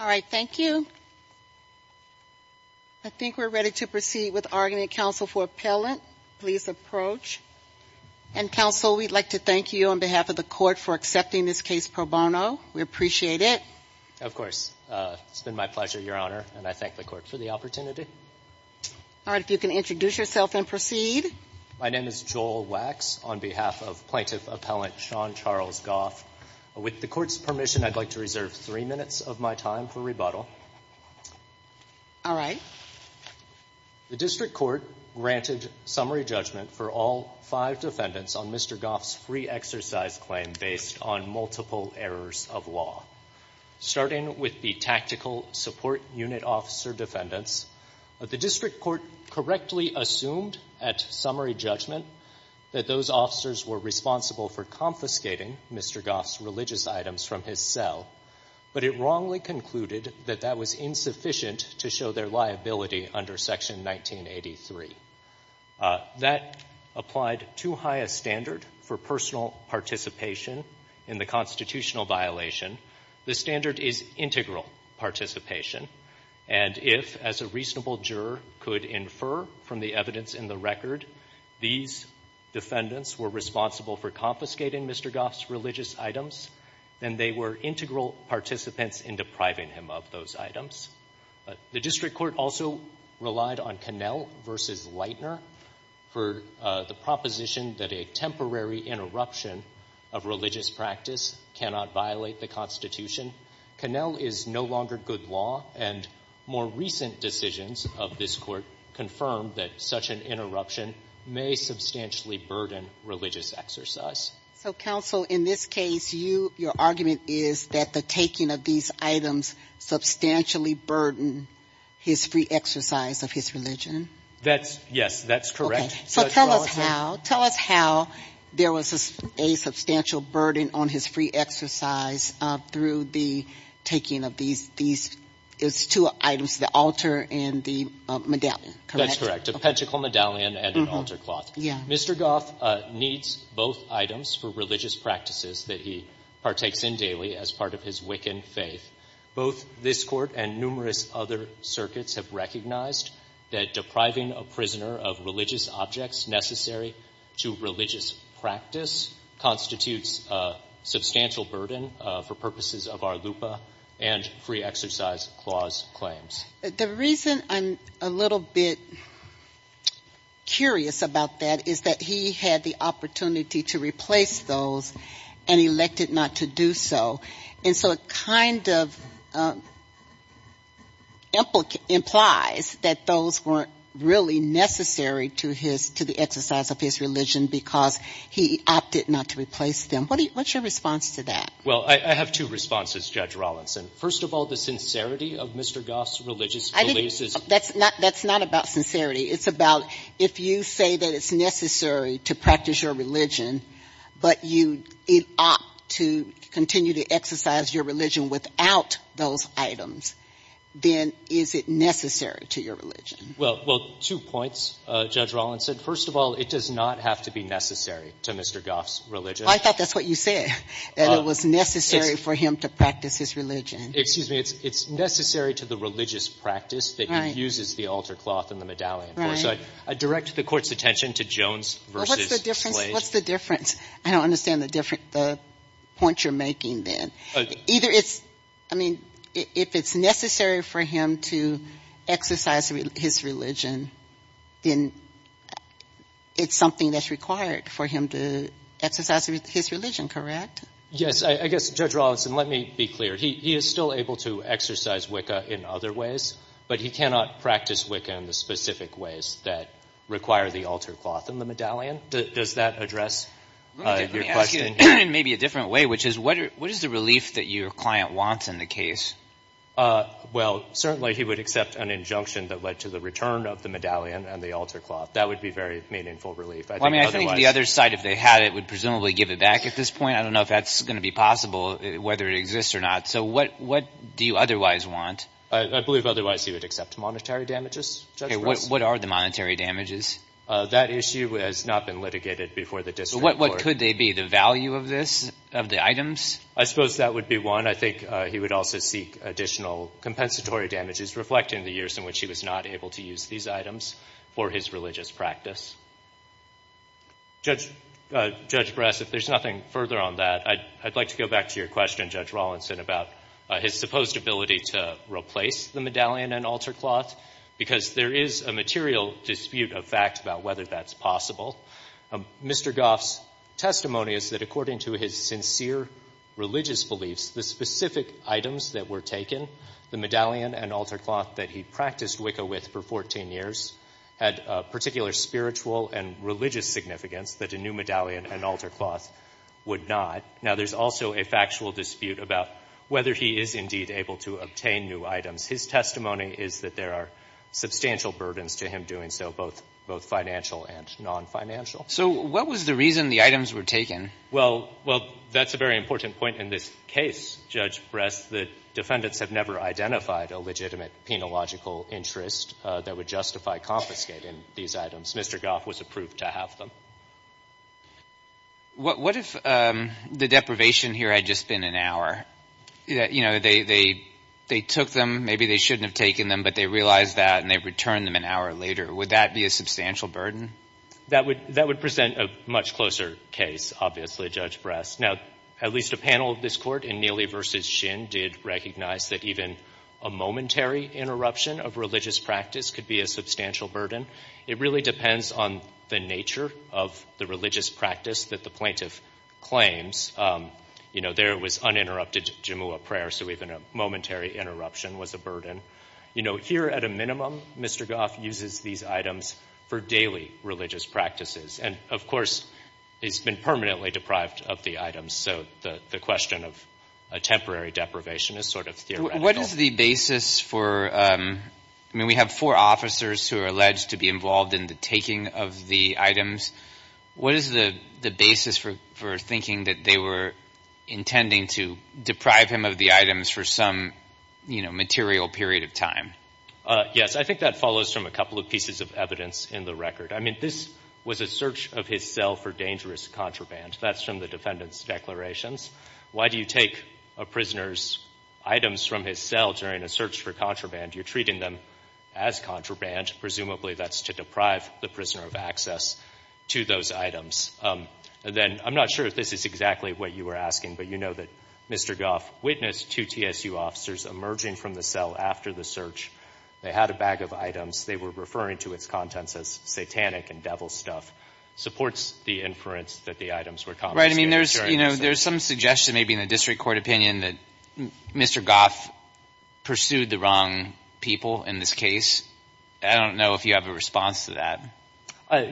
All right, thank you. I think we're ready to proceed with argument. Council for appellant, please approach. And counsel, we'd like to thank you on behalf of the court for accepting this case pro bono. We appreciate it. Of course. It's been my pleasure, Your Honor, and I thank the court for the opportunity. All right, if you can introduce yourself and proceed. My name is Joel Wax on behalf of plaintiff appellant Sean Charles Goff. With the court's permission, I'd like to reserve three minutes of my time for rebuttal. All right. The district court granted summary judgment for all five defendants on Mr. Goff's free exercise claim based on multiple errors of law. Starting with the tactical support unit officer defendants, the district court correctly assumed at summary judgment that those officers were responsible for confiscating Mr. Goff's religious items from his cell, but it wrongly concluded that that was insufficient to show their liability under section 1983. That applied too high a standard for personal participation in the constitutional violation. The standard is integral participation, and if, as a reasonable juror, could infer from the evidence in the record these defendants were responsible for confiscating Mr. Goff's religious items, then they were integral participants in depriving him of those items. The district court also relied on Connell v. Leitner for the proposition that a temporary interruption of religious practice cannot violate the Constitution. Connell is no longer good law, and more recent decisions of this Court confirm that such an interruption may substantially burden religious exercise. So, counsel, in this case, you your argument is that the taking of these items substantially burden his free exercise of his religion? That's, yes, that's correct. So tell us how, tell us how there was a substantial burden on his free exercise through the taking of these, these, it's two items, the altar and the medallion. That's correct, a pentacle medallion and an altar cloth. Yeah. Mr. Goff needs both items for religious practices that he partakes in daily as part of his Wiccan faith. Both this Court and numerous other circuits have recognized that depriving a prisoner of religious objects necessary to religious practice constitutes a substantial burden for purposes of our LUPA and free exercise clause claims. The reason I'm a little bit curious about that is that he had the opportunity to replace those and elected not to do so. And so it kind of implies that those weren't really necessary to his, to the exercise of his religion because he opted not to replace them. What do you, what's your response to that? Well, I, I have two responses, Judge Rawlinson. First of all, the sincerity of Mr. Goff's religious beliefs is I think that's not, that's not about sincerity. It's about if you say that it's necessary to practice your religion, but you opt to continue to exercise your religion without those items, then is it necessary to your religion? Well, well, two points, Judge Rawlinson. First of all, it does not have to be necessary to Mr. Goff's religion. I thought that's what you said, that it was necessary for him to practice his religion. Excuse me, it's, it's necessary to the religious practice that he uses the altar cloth and the medallion for. So I direct the court's attention to Jones versus Slate. What's the difference? I don't understand the difference, the point you're making then. Either it's, I mean, if it's necessary for him to exercise his religion, then it's something that's required for him to exercise his religion, correct? Yes, I guess, Judge Rawlinson, let me be clear. He, he is still able to exercise Wicca in other ways, but he cannot practice Wicca in the specific ways that require the altar cloth and the medallion. Does, does that address your question? Let me ask you in maybe a different way, which is what are, what is the relief that your client wants in the case? Well, certainly he would accept an injunction that led to the return of the medallion and the altar cloth. That would be very meaningful relief. I mean, I think the other side, if they had it, would presumably give it back at this point. I don't know if that's going to be possible, whether it exists or not. So what, what do you otherwise want? I, I believe otherwise he would accept monetary damages. Okay, what, what are the monetary damages? That issue has not been litigated before the district court. What, what could they be? The value of this, of the items? I suppose that would be one. And I think he would also seek additional compensatory damages reflecting the years in which he was not able to use these items for his religious practice. Judge, Judge Brass, if there's nothing further on that, I'd, I'd like to go back to your question, Judge Rawlinson, about his supposed ability to replace the medallion and altar cloth, because there is a material dispute of fact about whether that's possible. Mr. Goff's testimony is that according to his sincere religious beliefs, the specific items that were taken, the medallion and altar cloth that he practiced Wicca with for 14 years, had a particular spiritual and religious significance that a new medallion and altar cloth would not. Now there's also a factual dispute about whether he is indeed able to obtain new items. His testimony is that there are substantial burdens to him doing so, both, both financial and non-financial. So what was the reason the items were taken? Well, well, that's a very important point in this case, Judge Brass, that defendants have never identified a legitimate penological interest that would justify confiscating these items. Mr. Goff was approved to have them. What, what if the deprivation here had just been an hour? That, you know, they, they, they took them, maybe they shouldn't have taken them, but they realized that and they returned them an hour later. Would that be a substantial burden? That would, that would present a much closer case, obviously, Judge Brass. Now, at least a panel of this court in Neely versus Shin did recognize that even a momentary interruption of religious practice could be a substantial burden. It really depends on the nature of the religious practice that the plaintiff claims you know, there was uninterrupted Jumu'ah prayer, so even a momentary interruption was a burden. You know, here at a minimum, Mr. Goff uses these items for daily religious practices. And of course, he's been permanently deprived of the items, so the, the question of a temporary deprivation is sort of theoretical. What is the basis for I mean, we have four officers who are alleged to be involved in the taking of the items, what is the, the basis for, for thinking that they were intending to deprive him of the items for some, you know, material period of time? Yes, I think that follows from a couple of pieces of evidence in the record. I mean, this was a search of his cell for dangerous contraband. That's from the defendant's declarations. Why do you take a prisoner's items from his cell during a search for contraband? You're treating them as contraband. Presumably, that's to deprive the prisoner of access to those items. Then, I'm not sure if this is exactly what you were asking, but you know that Mr. Goff witnessed two TSU officers emerging from the cell after the search. They had a bag of items. They were referring to its contents as satanic and devil stuff. Supports the inference that the items were confiscated during the search. Right, I mean, there's, you know, there's some suggestion maybe in the district court opinion that Mr. Goff pursued the wrong people in this case. I don't know if you have a response to that.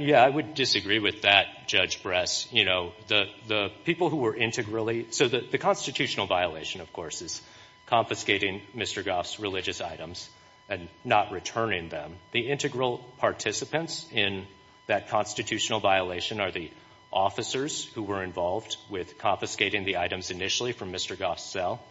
Yeah, I would disagree with that, Judge Bress. You know, the, the people who were integrally, so the constitutional violation, of course, is confiscating Mr. Goff's religious items and not returning them. The integral participants in that constitutional violation are the officers who were involved with confiscating the items initially from Mr. Goff's cell.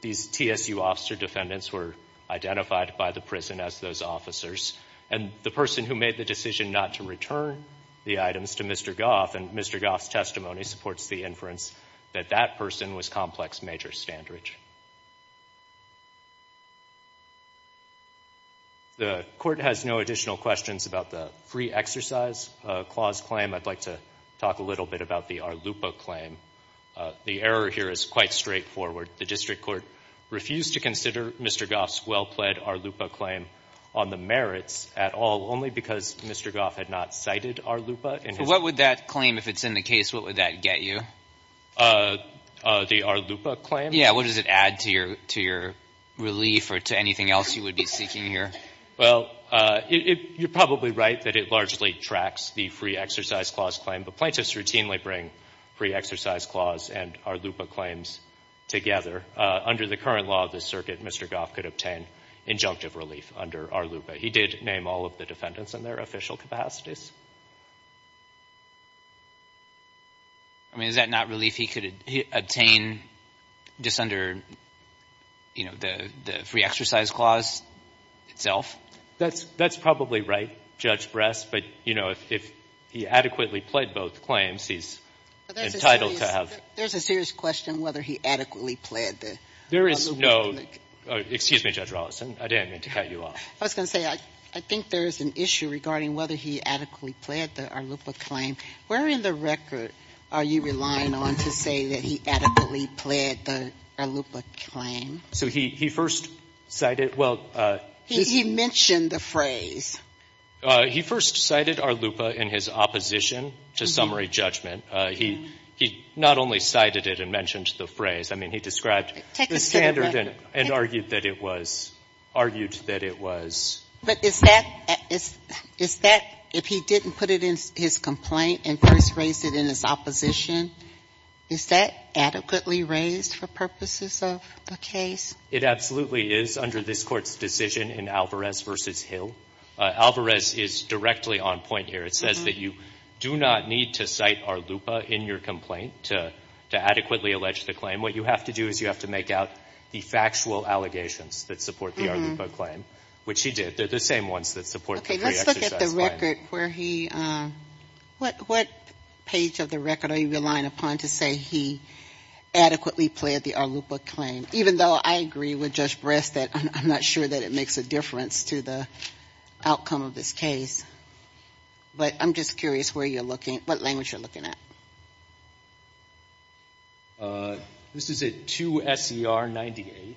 These TSU officer defendants were identified by the prison as those officers. And the person who made the decision not to return the items to Mr. Goff, and Mr. Goff's testimony supports the inference that that person was complex major standridge. The court has no additional questions about the free exercise clause claim. I'd like to talk a little bit about the Arlupa claim. The error here is quite straightforward. The district court refused to consider Mr. Goff's well-pled Arlupa claim on the merits at all, only because Mr. Goff had not cited Arlupa in his- And what would that claim, if it's in the case, what would that get you? The Arlupa claim? Yeah, what does it add to your, to your relief or to anything else you would be seeking here? Well, it, it, you're probably right that it largely tracks the free exercise clause claim. But plaintiffs routinely bring free exercise clause and Arlupa claims together. Under the current law of the circuit, Mr. Goff could obtain injunctive relief under Arlupa. He did name all of the defendants in their official capacities. I mean, is that not relief he could obtain just under, you know, the, the free exercise clause itself? That's, that's probably right, Judge Bress. But, you know, if, if he adequately pled both claims, he's entitled to have- But there's a serious, there's a serious question whether he adequately pled the Arlupa claim. There is no, excuse me, Judge Rawlinson, I didn't mean to cut you off. I was going to say, I, I think there's an issue regarding whether he adequately pled the Arlupa claim. Where in the record are you relying on to say that he adequately pled the Arlupa claim? So he, he first cited, well- He, he mentioned the phrase. He first cited Arlupa in his opposition to summary judgment. He, he not only cited it and mentioned the phrase. I mean, he described- Take us to the record. And argued that it was, argued that it was- But is that, is, is that, if he didn't put it in his complaint and first raised it in his opposition, is that adequately raised for purposes of the case? It absolutely is under this Court's decision in Alvarez v. Hill. Alvarez is directly on point here. It says that you do not need to cite Arlupa in your complaint to, to adequately allege the claim. And what you have to do is you have to make out the factual allegations that support the Arlupa claim. Which he did. They're the same ones that support the pre-exercise claim. Okay, let's look at the record where he, what, what page of the record are you relying upon to say he adequately pled the Arlupa claim? Even though I agree with Judge Breast that I'm, I'm not sure that it makes a difference to the outcome of this case. But I'm just curious where you're looking, what language you're looking at. This is at 2 S.E.R. 90A.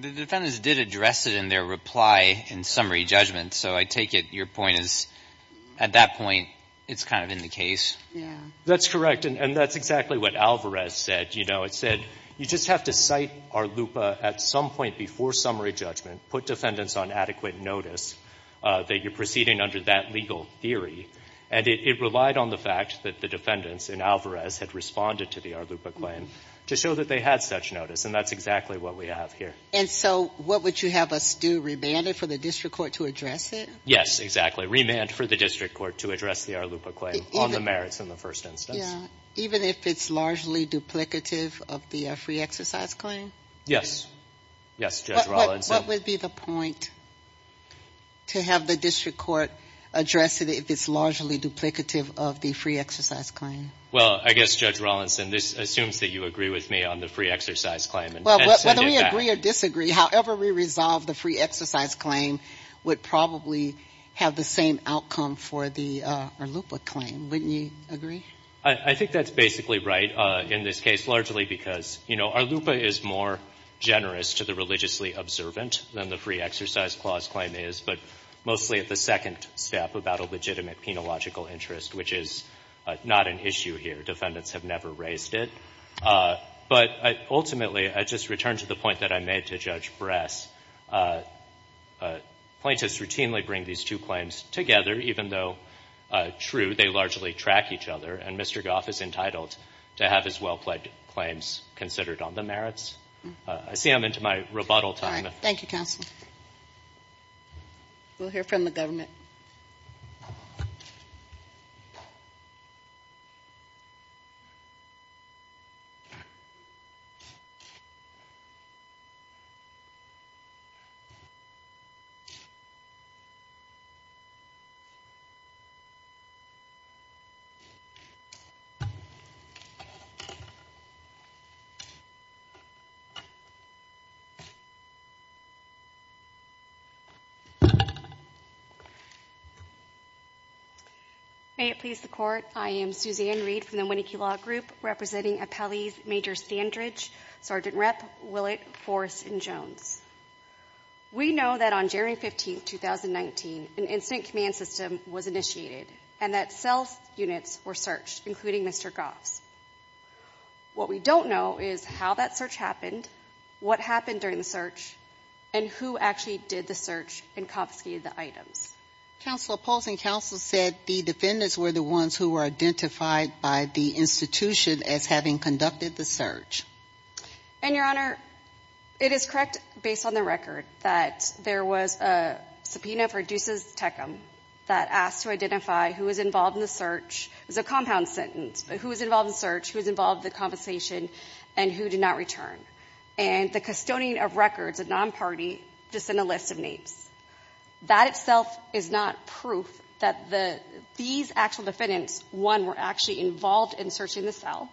The defendants did address it in their reply in summary judgment. So I take it your point is, at that point, it's kind of in the case? Yeah. That's correct. And, and that's exactly what Alvarez said. You know, it said, you just have to cite Arlupa at some point before summary judgment. Put defendants on adequate notice that you're proceeding under that legal theory. And it, it relied on the fact that the defendants in Alvarez had responded to the Arlupa claim to show that they had such notice. And that's exactly what we have here. And so what would you have us do? Remand it for the district court to address it? Yes, exactly. Remand for the district court to address the Arlupa claim on the merits in the first instance. Yeah. Even if it's largely duplicative of the free exercise claim? Yes. Yes, Judge Rawlinson. What would be the point to have the district court address it if it's largely duplicative of the free exercise claim? Well, I guess, Judge Rawlinson, this assumes that you agree with me on the free exercise claim. Well, whether we agree or disagree, however we resolve the free exercise claim would probably have the same outcome for the Arlupa claim. Wouldn't you agree? I think that's basically right in this case, largely because, you know, Arlupa is more generous to the religiously observant than the free exercise clause claim is, but mostly at the second step about a legitimate penological interest, which is not an issue here. Defendants have never raised it. But ultimately, I just return to the point that I made to Judge Bress. Plaintiffs routinely bring these two claims together, even though, true, they largely track each other, and Mr. Goff is entitled to have his well-plaid claims considered on the merits. I see I'm into my rebuttal time. Thank you, counsel. We'll hear from the government. May it please the court, I am Suzanne Reed from the Winneke Law Group, representing Appellees Major Sandridge, Sergeant Rep Willett, Forrest, and Jones. We know that on January 15, 2019, an incident command system was initiated and that cell units were searched, including Mr. Goff's. What we don't know is how that search happened, what happened during the search, and who actually did the search and confiscated the items. Counsel, opposing counsel said the defendants were the ones who were identified by the institution as having conducted the search. And, Your Honor, it is correct, based on the record, that there was a subpoena for Deuces Tecum that asked to identify who was involved in the search. It was a compound sentence, but who was involved in the search, who was involved in the confiscation, and who did not return. And the custodian of records, a non-party, just sent a list of names. That itself is not proof that these actual defendants, one, were actually involved in searching the cell,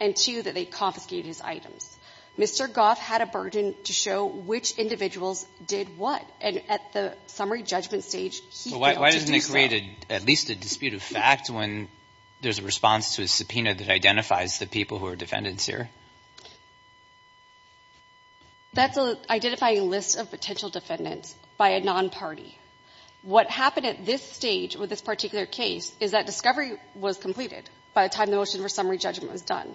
and two, that they confiscated his items. Mr. Goff had a burden to show which individuals did what, and at the summary judgment stage, he failed to do so. Why doesn't it create at least a dispute of fact when there's a response to a subpoena that identifies the people who are defendants here? That's an identifying list of potential defendants by a non-party. What happened at this stage with this particular case is that discovery was completed by the time the motion for summary judgment was done.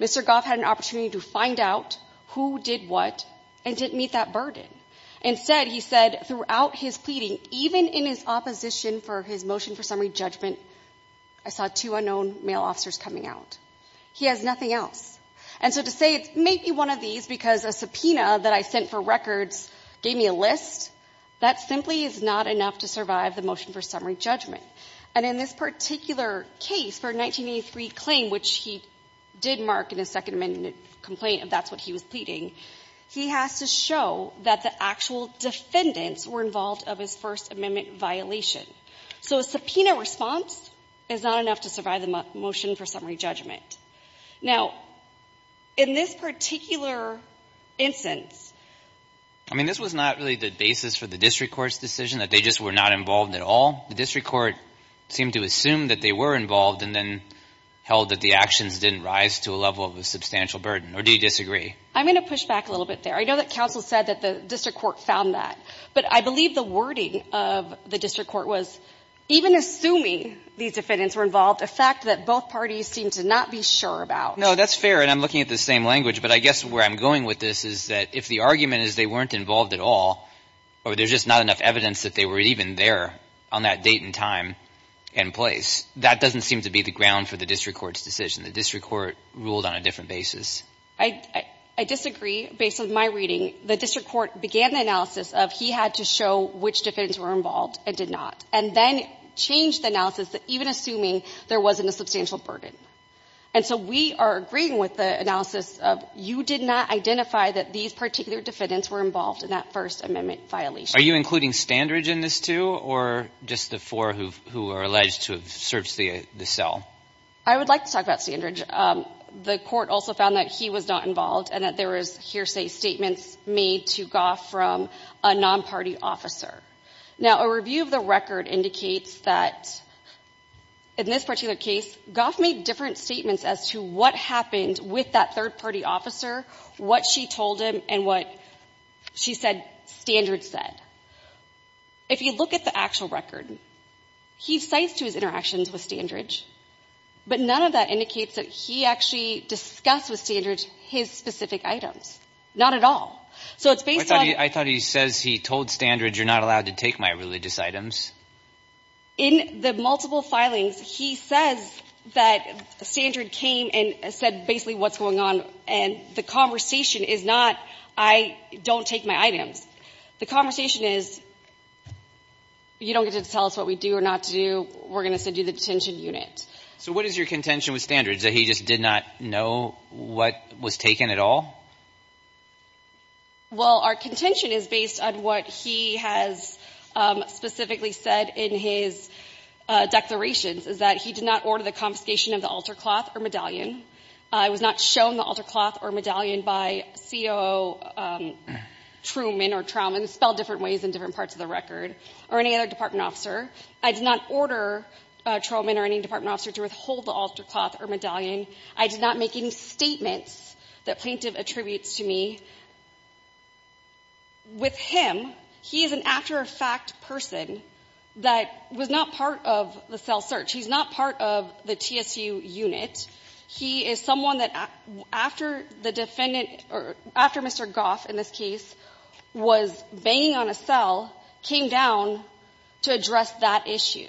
Mr. Goff had an opportunity to find out who did what and didn't meet that burden. Instead, he said throughout his pleading, even in his opposition for his motion for summary judgment, I saw two unknown male officers coming out. He has nothing else. And so to say it may be one of these because a subpoena that I sent for records gave me a list, that simply is not enough to survive the motion for summary judgment. And in this particular case for 1983 claim, which he did mark in his Second Amendment complaint if that's what he was pleading, he has to show that the actual defendants were involved of his First Amendment violation. So a subpoena response is not enough to survive the motion for summary judgment. Now, in this particular instance. I mean, this was not really the basis for the district court's decision that they just were not involved at all. The district court seemed to assume that they were involved and then held that the actions didn't rise to a level of a substantial burden. Or do you disagree? I'm going to push back a little bit there. I know that counsel said that the district court found that. But I believe the wording of the district court was even assuming these defendants were involved, a fact that both parties seem to not be sure about. No, that's fair. And I'm looking at the same language. But I guess where I'm going with this is that if the argument is they weren't involved at all, or there's just not enough evidence that they were even there on that date and time and place, that doesn't seem to be the ground for the district court's decision. The district court ruled on a different basis. I disagree. Based on my reading, the district court began the analysis of he had to show which defendants were involved and did not. And then changed the analysis, even assuming there wasn't a substantial burden. And so we are agreeing with the analysis of you did not identify that these particular defendants were involved in that First Amendment violation. Are you including Standridge in this too? Or just the four who are alleged to have searched the cell? I would like to talk about Standridge. The court also found that he was not involved and that there was hearsay statements made to Gough from a non-party officer. Now, a review of the record indicates that in this particular case, Gough made different statements as to what happened with that third-party officer, what she told him, and what she said Standridge said. If you look at the actual record, he cites to his interactions with Standridge, but none of that indicates that he actually discussed with Standridge his specific items. Not at all. So it's based on... I thought he says he told Standridge, you're not allowed to take my religious items. In the multiple filings, he says that Standridge came and said basically what's going on. And the conversation is not, I don't take my items. The conversation is, you don't get to tell us what we do or not to do. We're going to send you to the detention unit. So what is your contention with Standridge? That he just did not know what was taken at all? Well, our contention is based on what he has specifically said in his declarations is that he did not order the confiscation of the altar cloth or medallion. It was not shown the altar cloth or medallion by COO Truman or Trowman, spelled different ways in different parts of the record, or any other department officer. I did not order Truman or any department officer to withhold the altar cloth or medallion. I did not make any statements that Plaintiff attributes to me. With him, he is an after-fact person that was not part of the cell search. He's not part of the TSU unit. He is someone that after the defendant, or after Mr. Goff, in this case, was banging on a cell, came down to address that issue.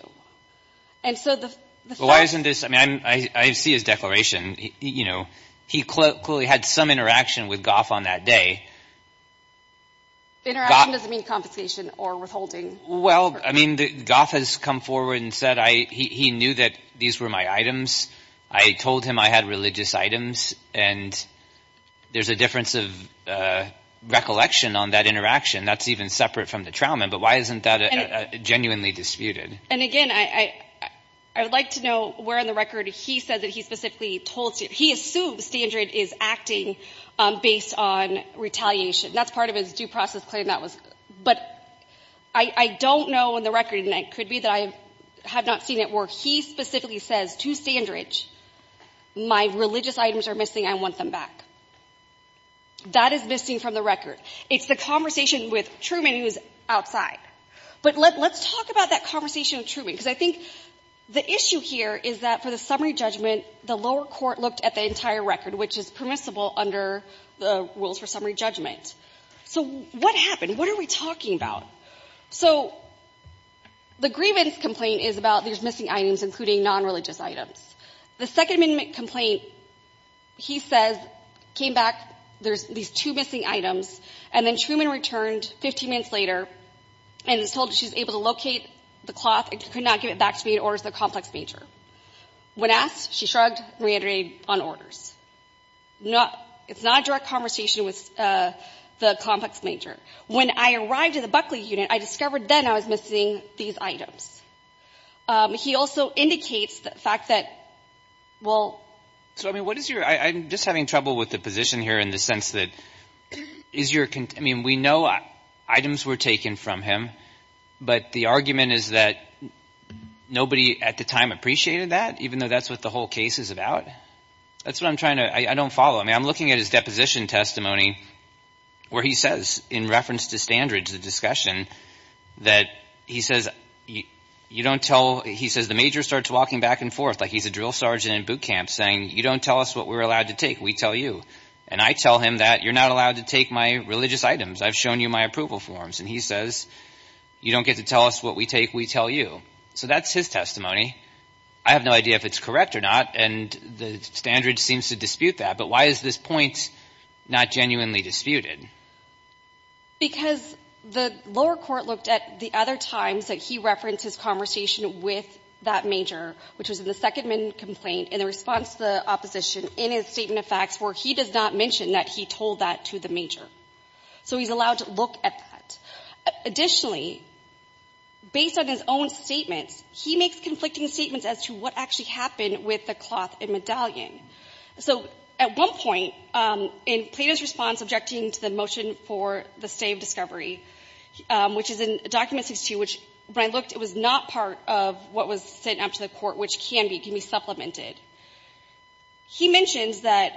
And so the... Why isn't this... I mean, I see his declaration. He clearly had some interaction with Goff on that day. Interaction doesn't mean confiscation or withholding. Well, I mean, Goff has come forward and said he knew that these were my items. I told him I had religious items. And there's a difference of recollection on that interaction. That's even separate from the Trowman. But why isn't that genuinely disputed? And again, I would like to know where in the record he said that he specifically told... He assumed Standridge is acting based on retaliation. That's part of his due process claim that was... But I don't know in the record, and it could be that I have not seen it, where he specifically says to Standridge, my religious items are missing. I want them back. That is missing from the record. It's the conversation with Truman who's outside. But let's talk about that conversation with Truman, because I think the issue here is that for the summary judgment, the lower court looked at the entire record, which is permissible under the rules for summary judgment. So what happened? What are we talking about? So the grievance complaint is about these missing items, including non-religious items. The Second Amendment complaint, he says, came back, there's these two missing items. And then Truman returned 15 minutes later and was told she was able to locate the cloth and could not give it back to me, it orders the complex major. When asked, she shrugged, reiterated on orders. It's not a direct conversation with the complex major. When I arrived at the Buckley unit, I discovered then I was missing these items. He also indicates the fact that, well... So, I mean, what is your... I'm just having trouble with the position here in the sense that is your... I mean, we know items were taken from him, but the argument is that nobody at the time appreciated that, even though that's what the whole case is about. That's what I'm trying to... I don't follow. I mean, I'm looking at his deposition testimony where he says, in reference to standards, the discussion, that he says, you don't tell... He says the major starts walking back and forth, like he's a drill sergeant in boot We tell you. And I tell him that you're not allowed to take my religious items. I've shown you my approval forms. And he says, you don't get to tell us what we take. We tell you. So that's his testimony. I have no idea if it's correct or not. And the standard seems to dispute that. But why is this point not genuinely disputed? Because the lower court looked at the other times that he referenced his conversation with that major, which was in the Second Amendment complaint, in the response to the opposition, in his statement of facts, where he does not mention that he told that to the major. So he's allowed to look at that. Additionally, based on his own statements, he makes conflicting statements as to what actually happened with the cloth and medallion. So at one point, in Plato's response objecting to the motion for the stay of discovery, which is in document 62, which when I looked, it was not part of what was sent up to the Supreme Court, which can be supplemented. He mentions that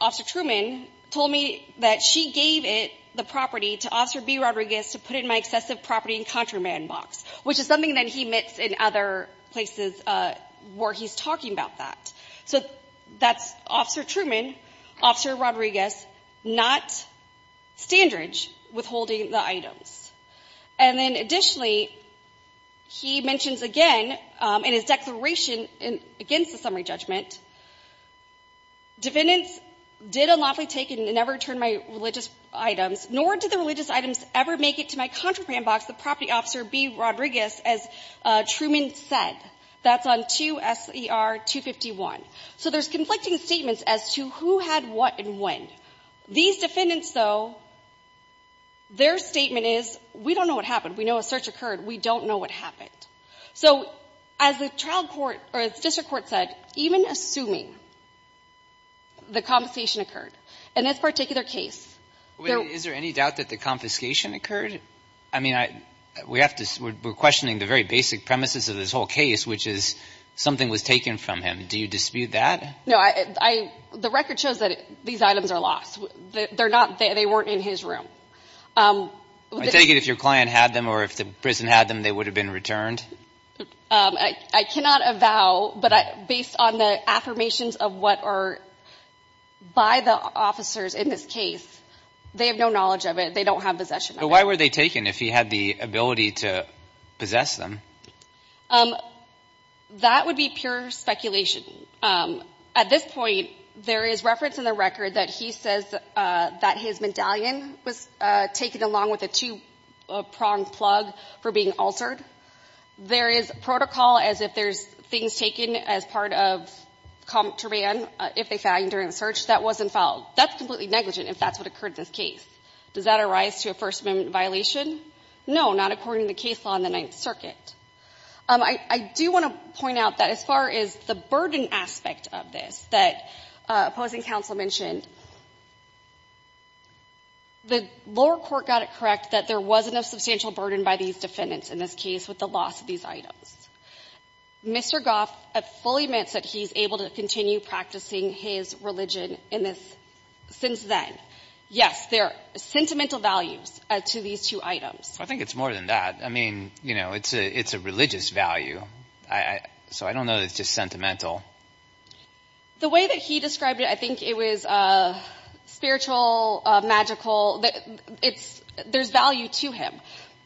Officer Truman told me that she gave it, the property, to Officer B. Rodriguez to put in my excessive property and contraband box, which is something that he admits in other places where he's talking about that. So that's Officer Truman, Officer Rodriguez, not Standridge, withholding the items. And then additionally, he mentions again in his declaration against the summary judgment, defendants did unlawfully take and never return my religious items, nor did the religious items ever make it to my contraband box, the property Officer B. Rodriguez, as Truman said. That's on 2 SER 251. So there's conflicting statements as to who had what and when. These defendants, though, their statement is, we don't know what happened. We know a search occurred. We don't know what happened. So as the trial court or the district court said, even assuming the confiscation occurred in this particular case. Is there any doubt that the confiscation occurred? I mean, we have to, we're questioning the very basic premises of this whole case, which is something was taken from him. Do you dispute that? No, I, the record shows that these items are lost. They're not there. They weren't in his room. I take it if your client had them or if the prison had them, they would have been returned. I cannot avow, but based on the affirmations of what are by the officers in this case, they have no knowledge of it. They don't have possession. Why were they taken if he had the ability to possess them? That would be pure speculation. At this point, there is reference in the record that he says that his medallion was taken along with a two-pronged plug for being altered. There is protocol as if there's things taken as part of comp terrain if they found during the search that wasn't followed. That's completely negligent if that's what occurred in this case. Does that arise to a First Amendment violation? No, not according to the case law in the Ninth Circuit. I do want to point out that as far as the burden aspect of this that opposing counsel mentioned, the lower court got it correct that there wasn't a substantial burden by these defendants in this case with the loss of these items. Mr. Goff fully admits that he's able to continue practicing his religion in this since then. Yes, there are sentimental values to these two items. I think it's more than that. I mean, you know, it's a religious value. So I don't know that it's just sentimental. The way that he described it, I think it was spiritual, magical. There's value to him.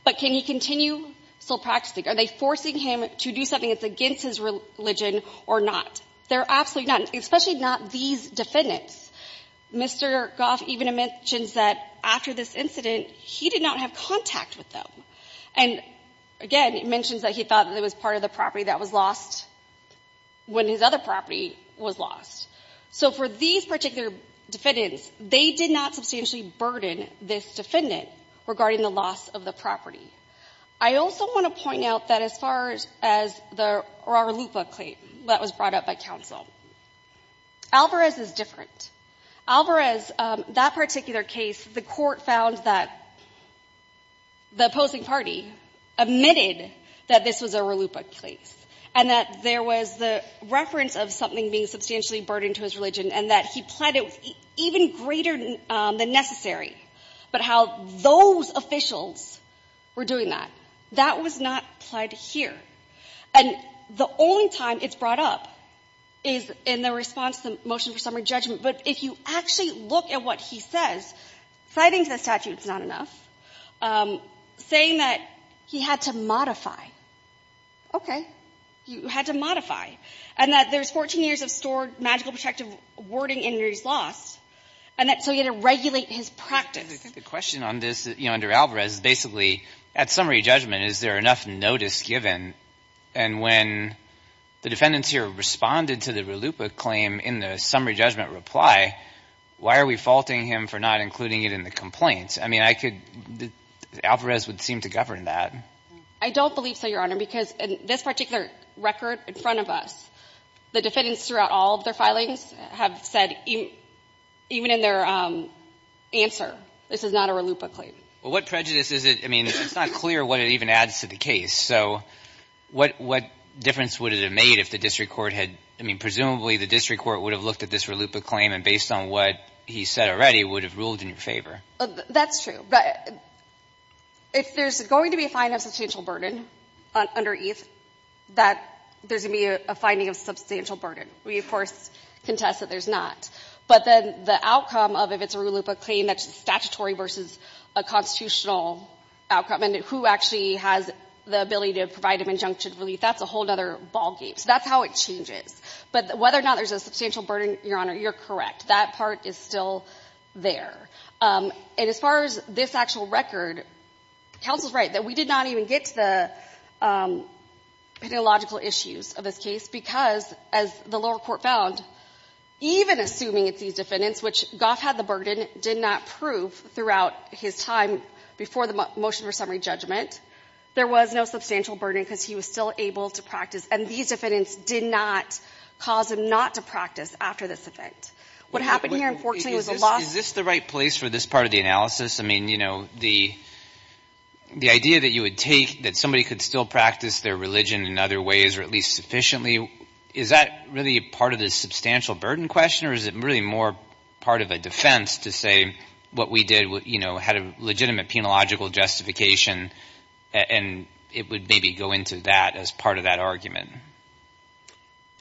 But can he continue still practicing? Are they forcing him to do something that's against his religion or not? They're absolutely not, especially not these defendants. Mr. Goff even mentions that after this incident, he did not have contact with them. And again, it mentions that he thought that it was part of the property that was lost when his other property was lost. So for these particular defendants, they did not substantially burden this defendant regarding the loss of the property. I also want to point out that as far as the Raralupa claim that was brought up by counsel, Alvarez is different. Alvarez, that particular case, the court found that the opposing party admitted that this was a Raralupa case and that there was the reference of something being substantially burdened to his religion and that he pled it even greater than necessary. But how those officials were doing that, that was not pled here. And the only time it's brought up is in the response to the motion for summary judgment. But if you actually look at what he says, citing the statute is not enough. Saying that he had to modify. Okay. You had to modify. And that there's 14 years of stored magical protective wording in his loss. And that's so he had to regulate his practice. I think the question on this, you know, under Alvarez is basically, at summary judgment, is there enough notice given? And when the defendants here responded to the Raralupa claim in the summary judgment reply, why are we faulting him for not including it in the complaints? I mean, I could, Alvarez would seem to govern that. I don't believe so, Your Honor, because in this particular record in front of us, the defendants throughout all of their filings have said, even in their answer, this is not a Raralupa claim. Well, what prejudice is it? I mean, it's not clear what it even adds to the case. So what difference would it have made if the district court had, I mean, presumably the district court would have looked at this Raralupa claim, and based on what he said already, would have ruled in your favor? That's true. If there's going to be a finding of substantial burden under ETH, that there's going to be a finding of substantial burden. We, of course, contest that there's not. But then the outcome of if it's a Raralupa claim, that's statutory versus a constitutional outcome. Who actually has the ability to provide an injunction of relief? That's a whole other ballgame. So that's how it changes. But whether or not there's a substantial burden, Your Honor, you're correct. That part is still there. And as far as this actual record, counsel's right that we did not even get to the pedagogical issues of this case because, as the lower court found, even assuming it's these defendants, which Goff had the burden, did not prove throughout his time before the motion for summary judgment, there was no substantial burden because he was still able to practice. And these defendants did not cause him not to practice after this event. What happened here, unfortunately, was a loss. Is this the right place for this part of the analysis? I mean, you know, the idea that you would take that somebody could still practice their religion in other ways, or at least sufficiently, is that really part of the substantial burden question? Or is it really more part of a defense to say what we did, you know, had a legitimate penological justification, and it would maybe go into that as part of that argument?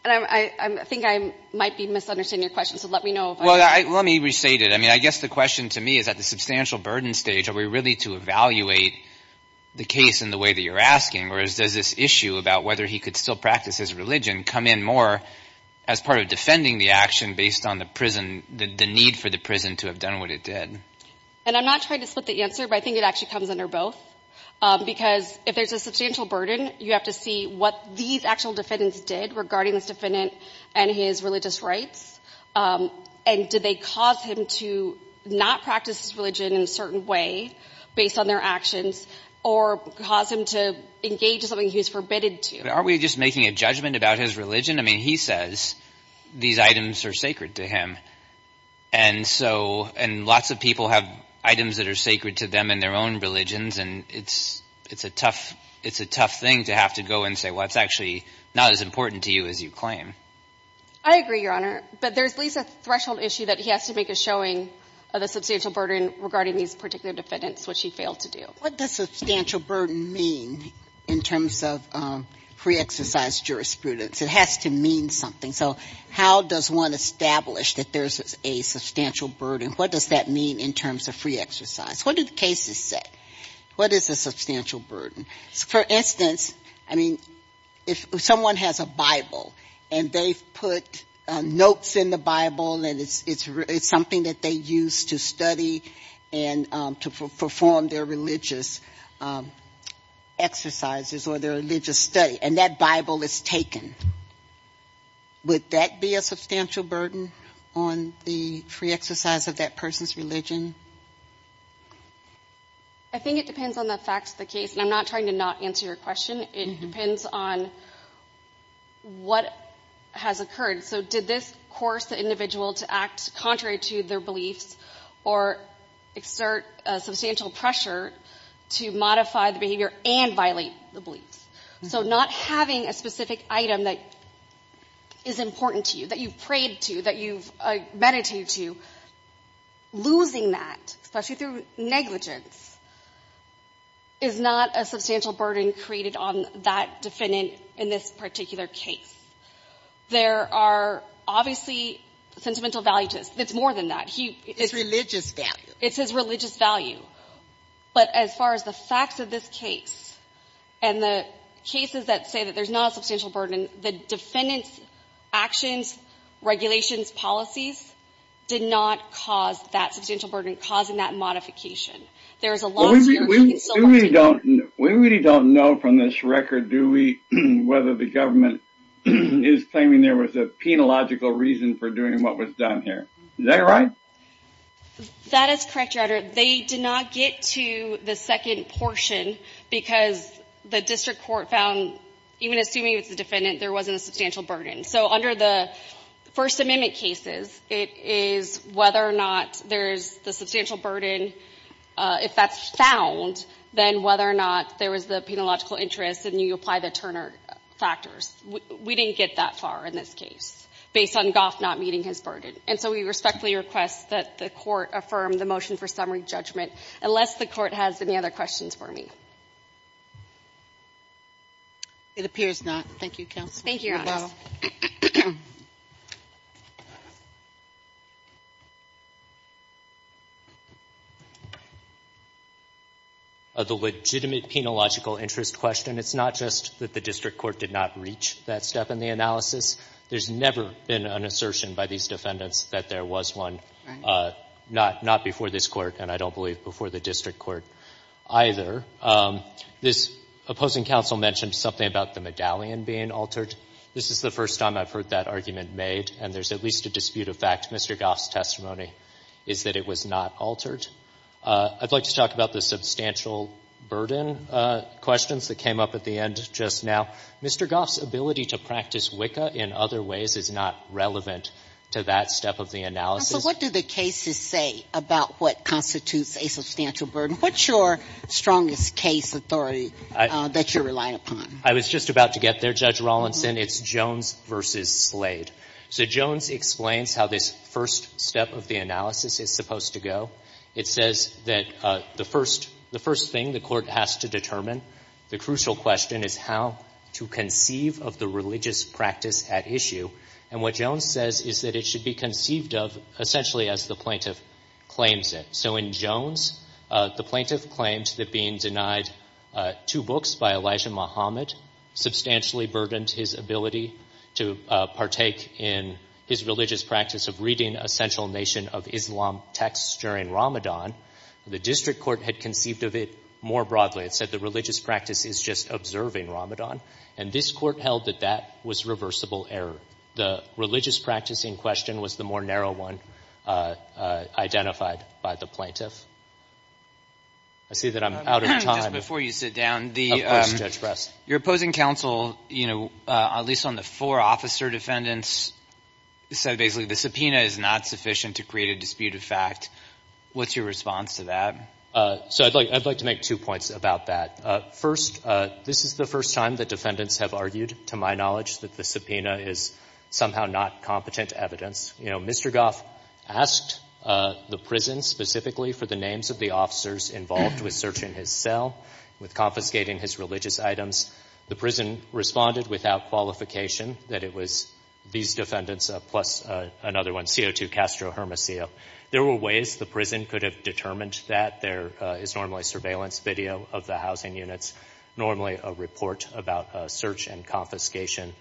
And I think I might be misunderstanding your question. So let me know. Well, let me restate it. I mean, I guess the question to me is, at the substantial burden stage, are we really to evaluate the case in the way that you're asking? Whereas, does this issue about whether he could still practice his religion come in more as part of defending the action based on the prison, the need for the prison to have done what it did? And I'm not trying to split the answer, but I think it actually comes under both. Because if there's a substantial burden, you have to see what these actual defendants did regarding this defendant and his religious rights. And did they cause him to not practice his religion in a certain way, based on their actions, or cause him to engage in something he was forbidden to? Aren't we just making a judgment about his religion? I mean, he says these items are sacred to him. And so, and lots of people have items that are sacred to them in their own religions. And it's a tough thing to have to go and say, well, it's actually not as important to you as you claim. I agree, Your Honor. But there's at least a threshold issue that he has to make a showing of the substantial burden regarding these particular defendants, which he failed to do. What does substantial burden mean in terms of pre-exercise jurisprudence? It has to mean something. So how does one establish that there's a substantial burden? What does that mean in terms of pre-exercise? What do the cases say? What is a substantial burden? For instance, I mean, if someone has a Bible, and they've put notes in the Bible, and it's something that they use to study and to perform their religious exercises or their religious study, and that Bible is taken, would that be a substantial burden on the pre-exercise of that person's religion? I think it depends on the facts of the case. And I'm not trying to not answer your question. It depends on what has occurred. So did this coerce the individual to act contrary to their beliefs or exert substantial pressure to modify the behavior and violate the beliefs? So not having a specific item that is important to you, that you've prayed to, that you've meditated to, losing that, especially through negligence, is not a substantial burden created on that defendant in this particular case. There are obviously sentimental value to this. It's more than that. It's religious value. It's his religious value. But as far as the facts of this case and the cases that say that there's not a substantial burden, the defendant's actions, regulations, policies did not cause that substantial burden, causing that modification. There is a lot more that can still be done. We really don't know from this record, do we, whether the government is claiming there was a penological reason for doing what was done here. Is that right? That is correct, Your Honor. They did not get to the second portion because the district court found, even assuming it's the defendant, there wasn't a substantial burden. So under the First Amendment cases, it is whether or not there's the substantial burden, if that's found, then whether or not there was the penological interest and you apply the Turner factors. We didn't get that far in this case, based on Goff not meeting his burden. And so we respectfully request that the court affirm the motion for summary judgment, unless the court has any other questions for me. It appears not. Thank you, counsel. Thank you, Your Honor. The legitimate penological interest question, it's not just that the district court did not reach that step in the analysis. There's never been an assertion by these defendants that there was one, not before this court, and I don't believe before the district court either. This opposing counsel mentioned something about the medallion being altered. This is the first time I've heard that argument made, and there's at least a dispute of fact. Mr. Goff's testimony is that it was not altered. I'd like to talk about the substantial burden questions that came up at the end just now. Mr. Goff's ability to practice WICA in other ways is not relevant to that step of the analysis. So what do the cases say about what constitutes a substantial burden? What's your strongest case authority that you rely upon? I was just about to get there, Judge Rawlinson. It's Jones v. Slade. So Jones explains how this first step of the analysis is supposed to go. It says that the first thing the court has to determine, the crucial question, is how to conceive of the religious practice at issue. And what Jones says is that it should be conceived of essentially as the plaintiff claims it. So in Jones, the plaintiff claims that being denied two books by Elijah Muhammad substantially burdened his ability to partake in his religious practice of reading a central nation of Islam texts during Ramadan. The district court had conceived of it more broadly. It said the religious practice is just observing Ramadan. And this court held that that was reversible error. The religious practice in question was the more narrow one identified by the plaintiff. I see that I'm out of time. Just before you sit down, the— Of course, Judge Brest. Your opposing counsel, you know, at least on the four officer defendants, said basically the subpoena is not sufficient to create a dispute of fact. What's your response to that? So I'd like to make two points about that. First, this is the first time that defendants have argued, to my knowledge, that the subpoena is somehow not competent evidence. You know, Mr. Goff asked the prison specifically for the names of the officers involved with searching his cell, with confiscating his religious items. The prison responded without qualification that it was these defendants plus another one, CO2 Castro Hermosillo. There were ways the prison could have determined that. There is normally surveillance video of the housing units, normally a report about search and confiscation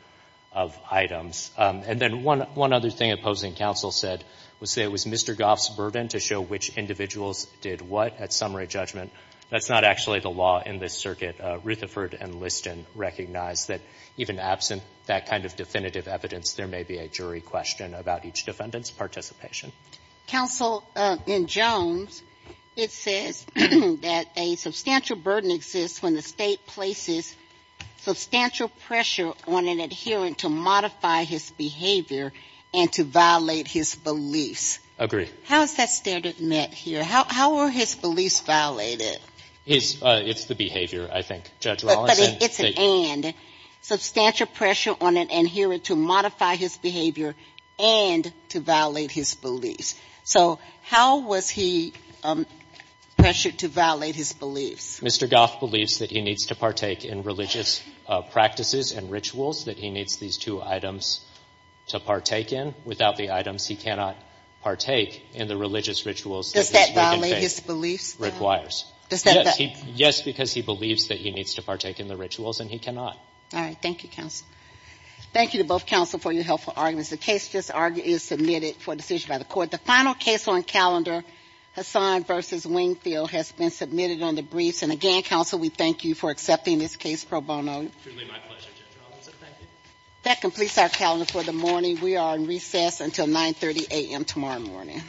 of items. And then one other thing opposing counsel said was that it was Mr. Goff's burden to show which individuals did what at summary judgment. That's not actually the law in this circuit. Rutherford and Liston recognized that even absent that kind of definitive evidence, there may be a jury question about each defendant's participation. Counsel, in Jones, it says that a substantial burden exists when the state places substantial pressure on an adherent to modify his behavior and to violate his beliefs. Agree. How is that standard met here? How are his beliefs violated? It's the behavior, I think, Judge Rawlinson. It's an and. Substantial pressure on an adherent to modify his behavior and to violate his beliefs. So how was he pressured to violate his beliefs? Mr. Goff believes that he needs to partake in religious practices and rituals, that he needs these two items to partake in. Without the items, he cannot partake in the religious rituals that this wicked faith requires. Does that violate his beliefs, then? Yes, because he believes that he needs to partake in the rituals, and he cannot. All right. Thank you, counsel. Thank you to both counsel for your helpful arguments. The case just argued is submitted for decision by the Court. The final case on calendar, Hassan v. Wingfield, has been submitted on the briefs. And again, counsel, we thank you for accepting this case pro bono. Truly my pleasure, Judge Rawlinson. Thank you. That completes our calendar for the morning. We are on recess until 9.30 a.m. tomorrow morning.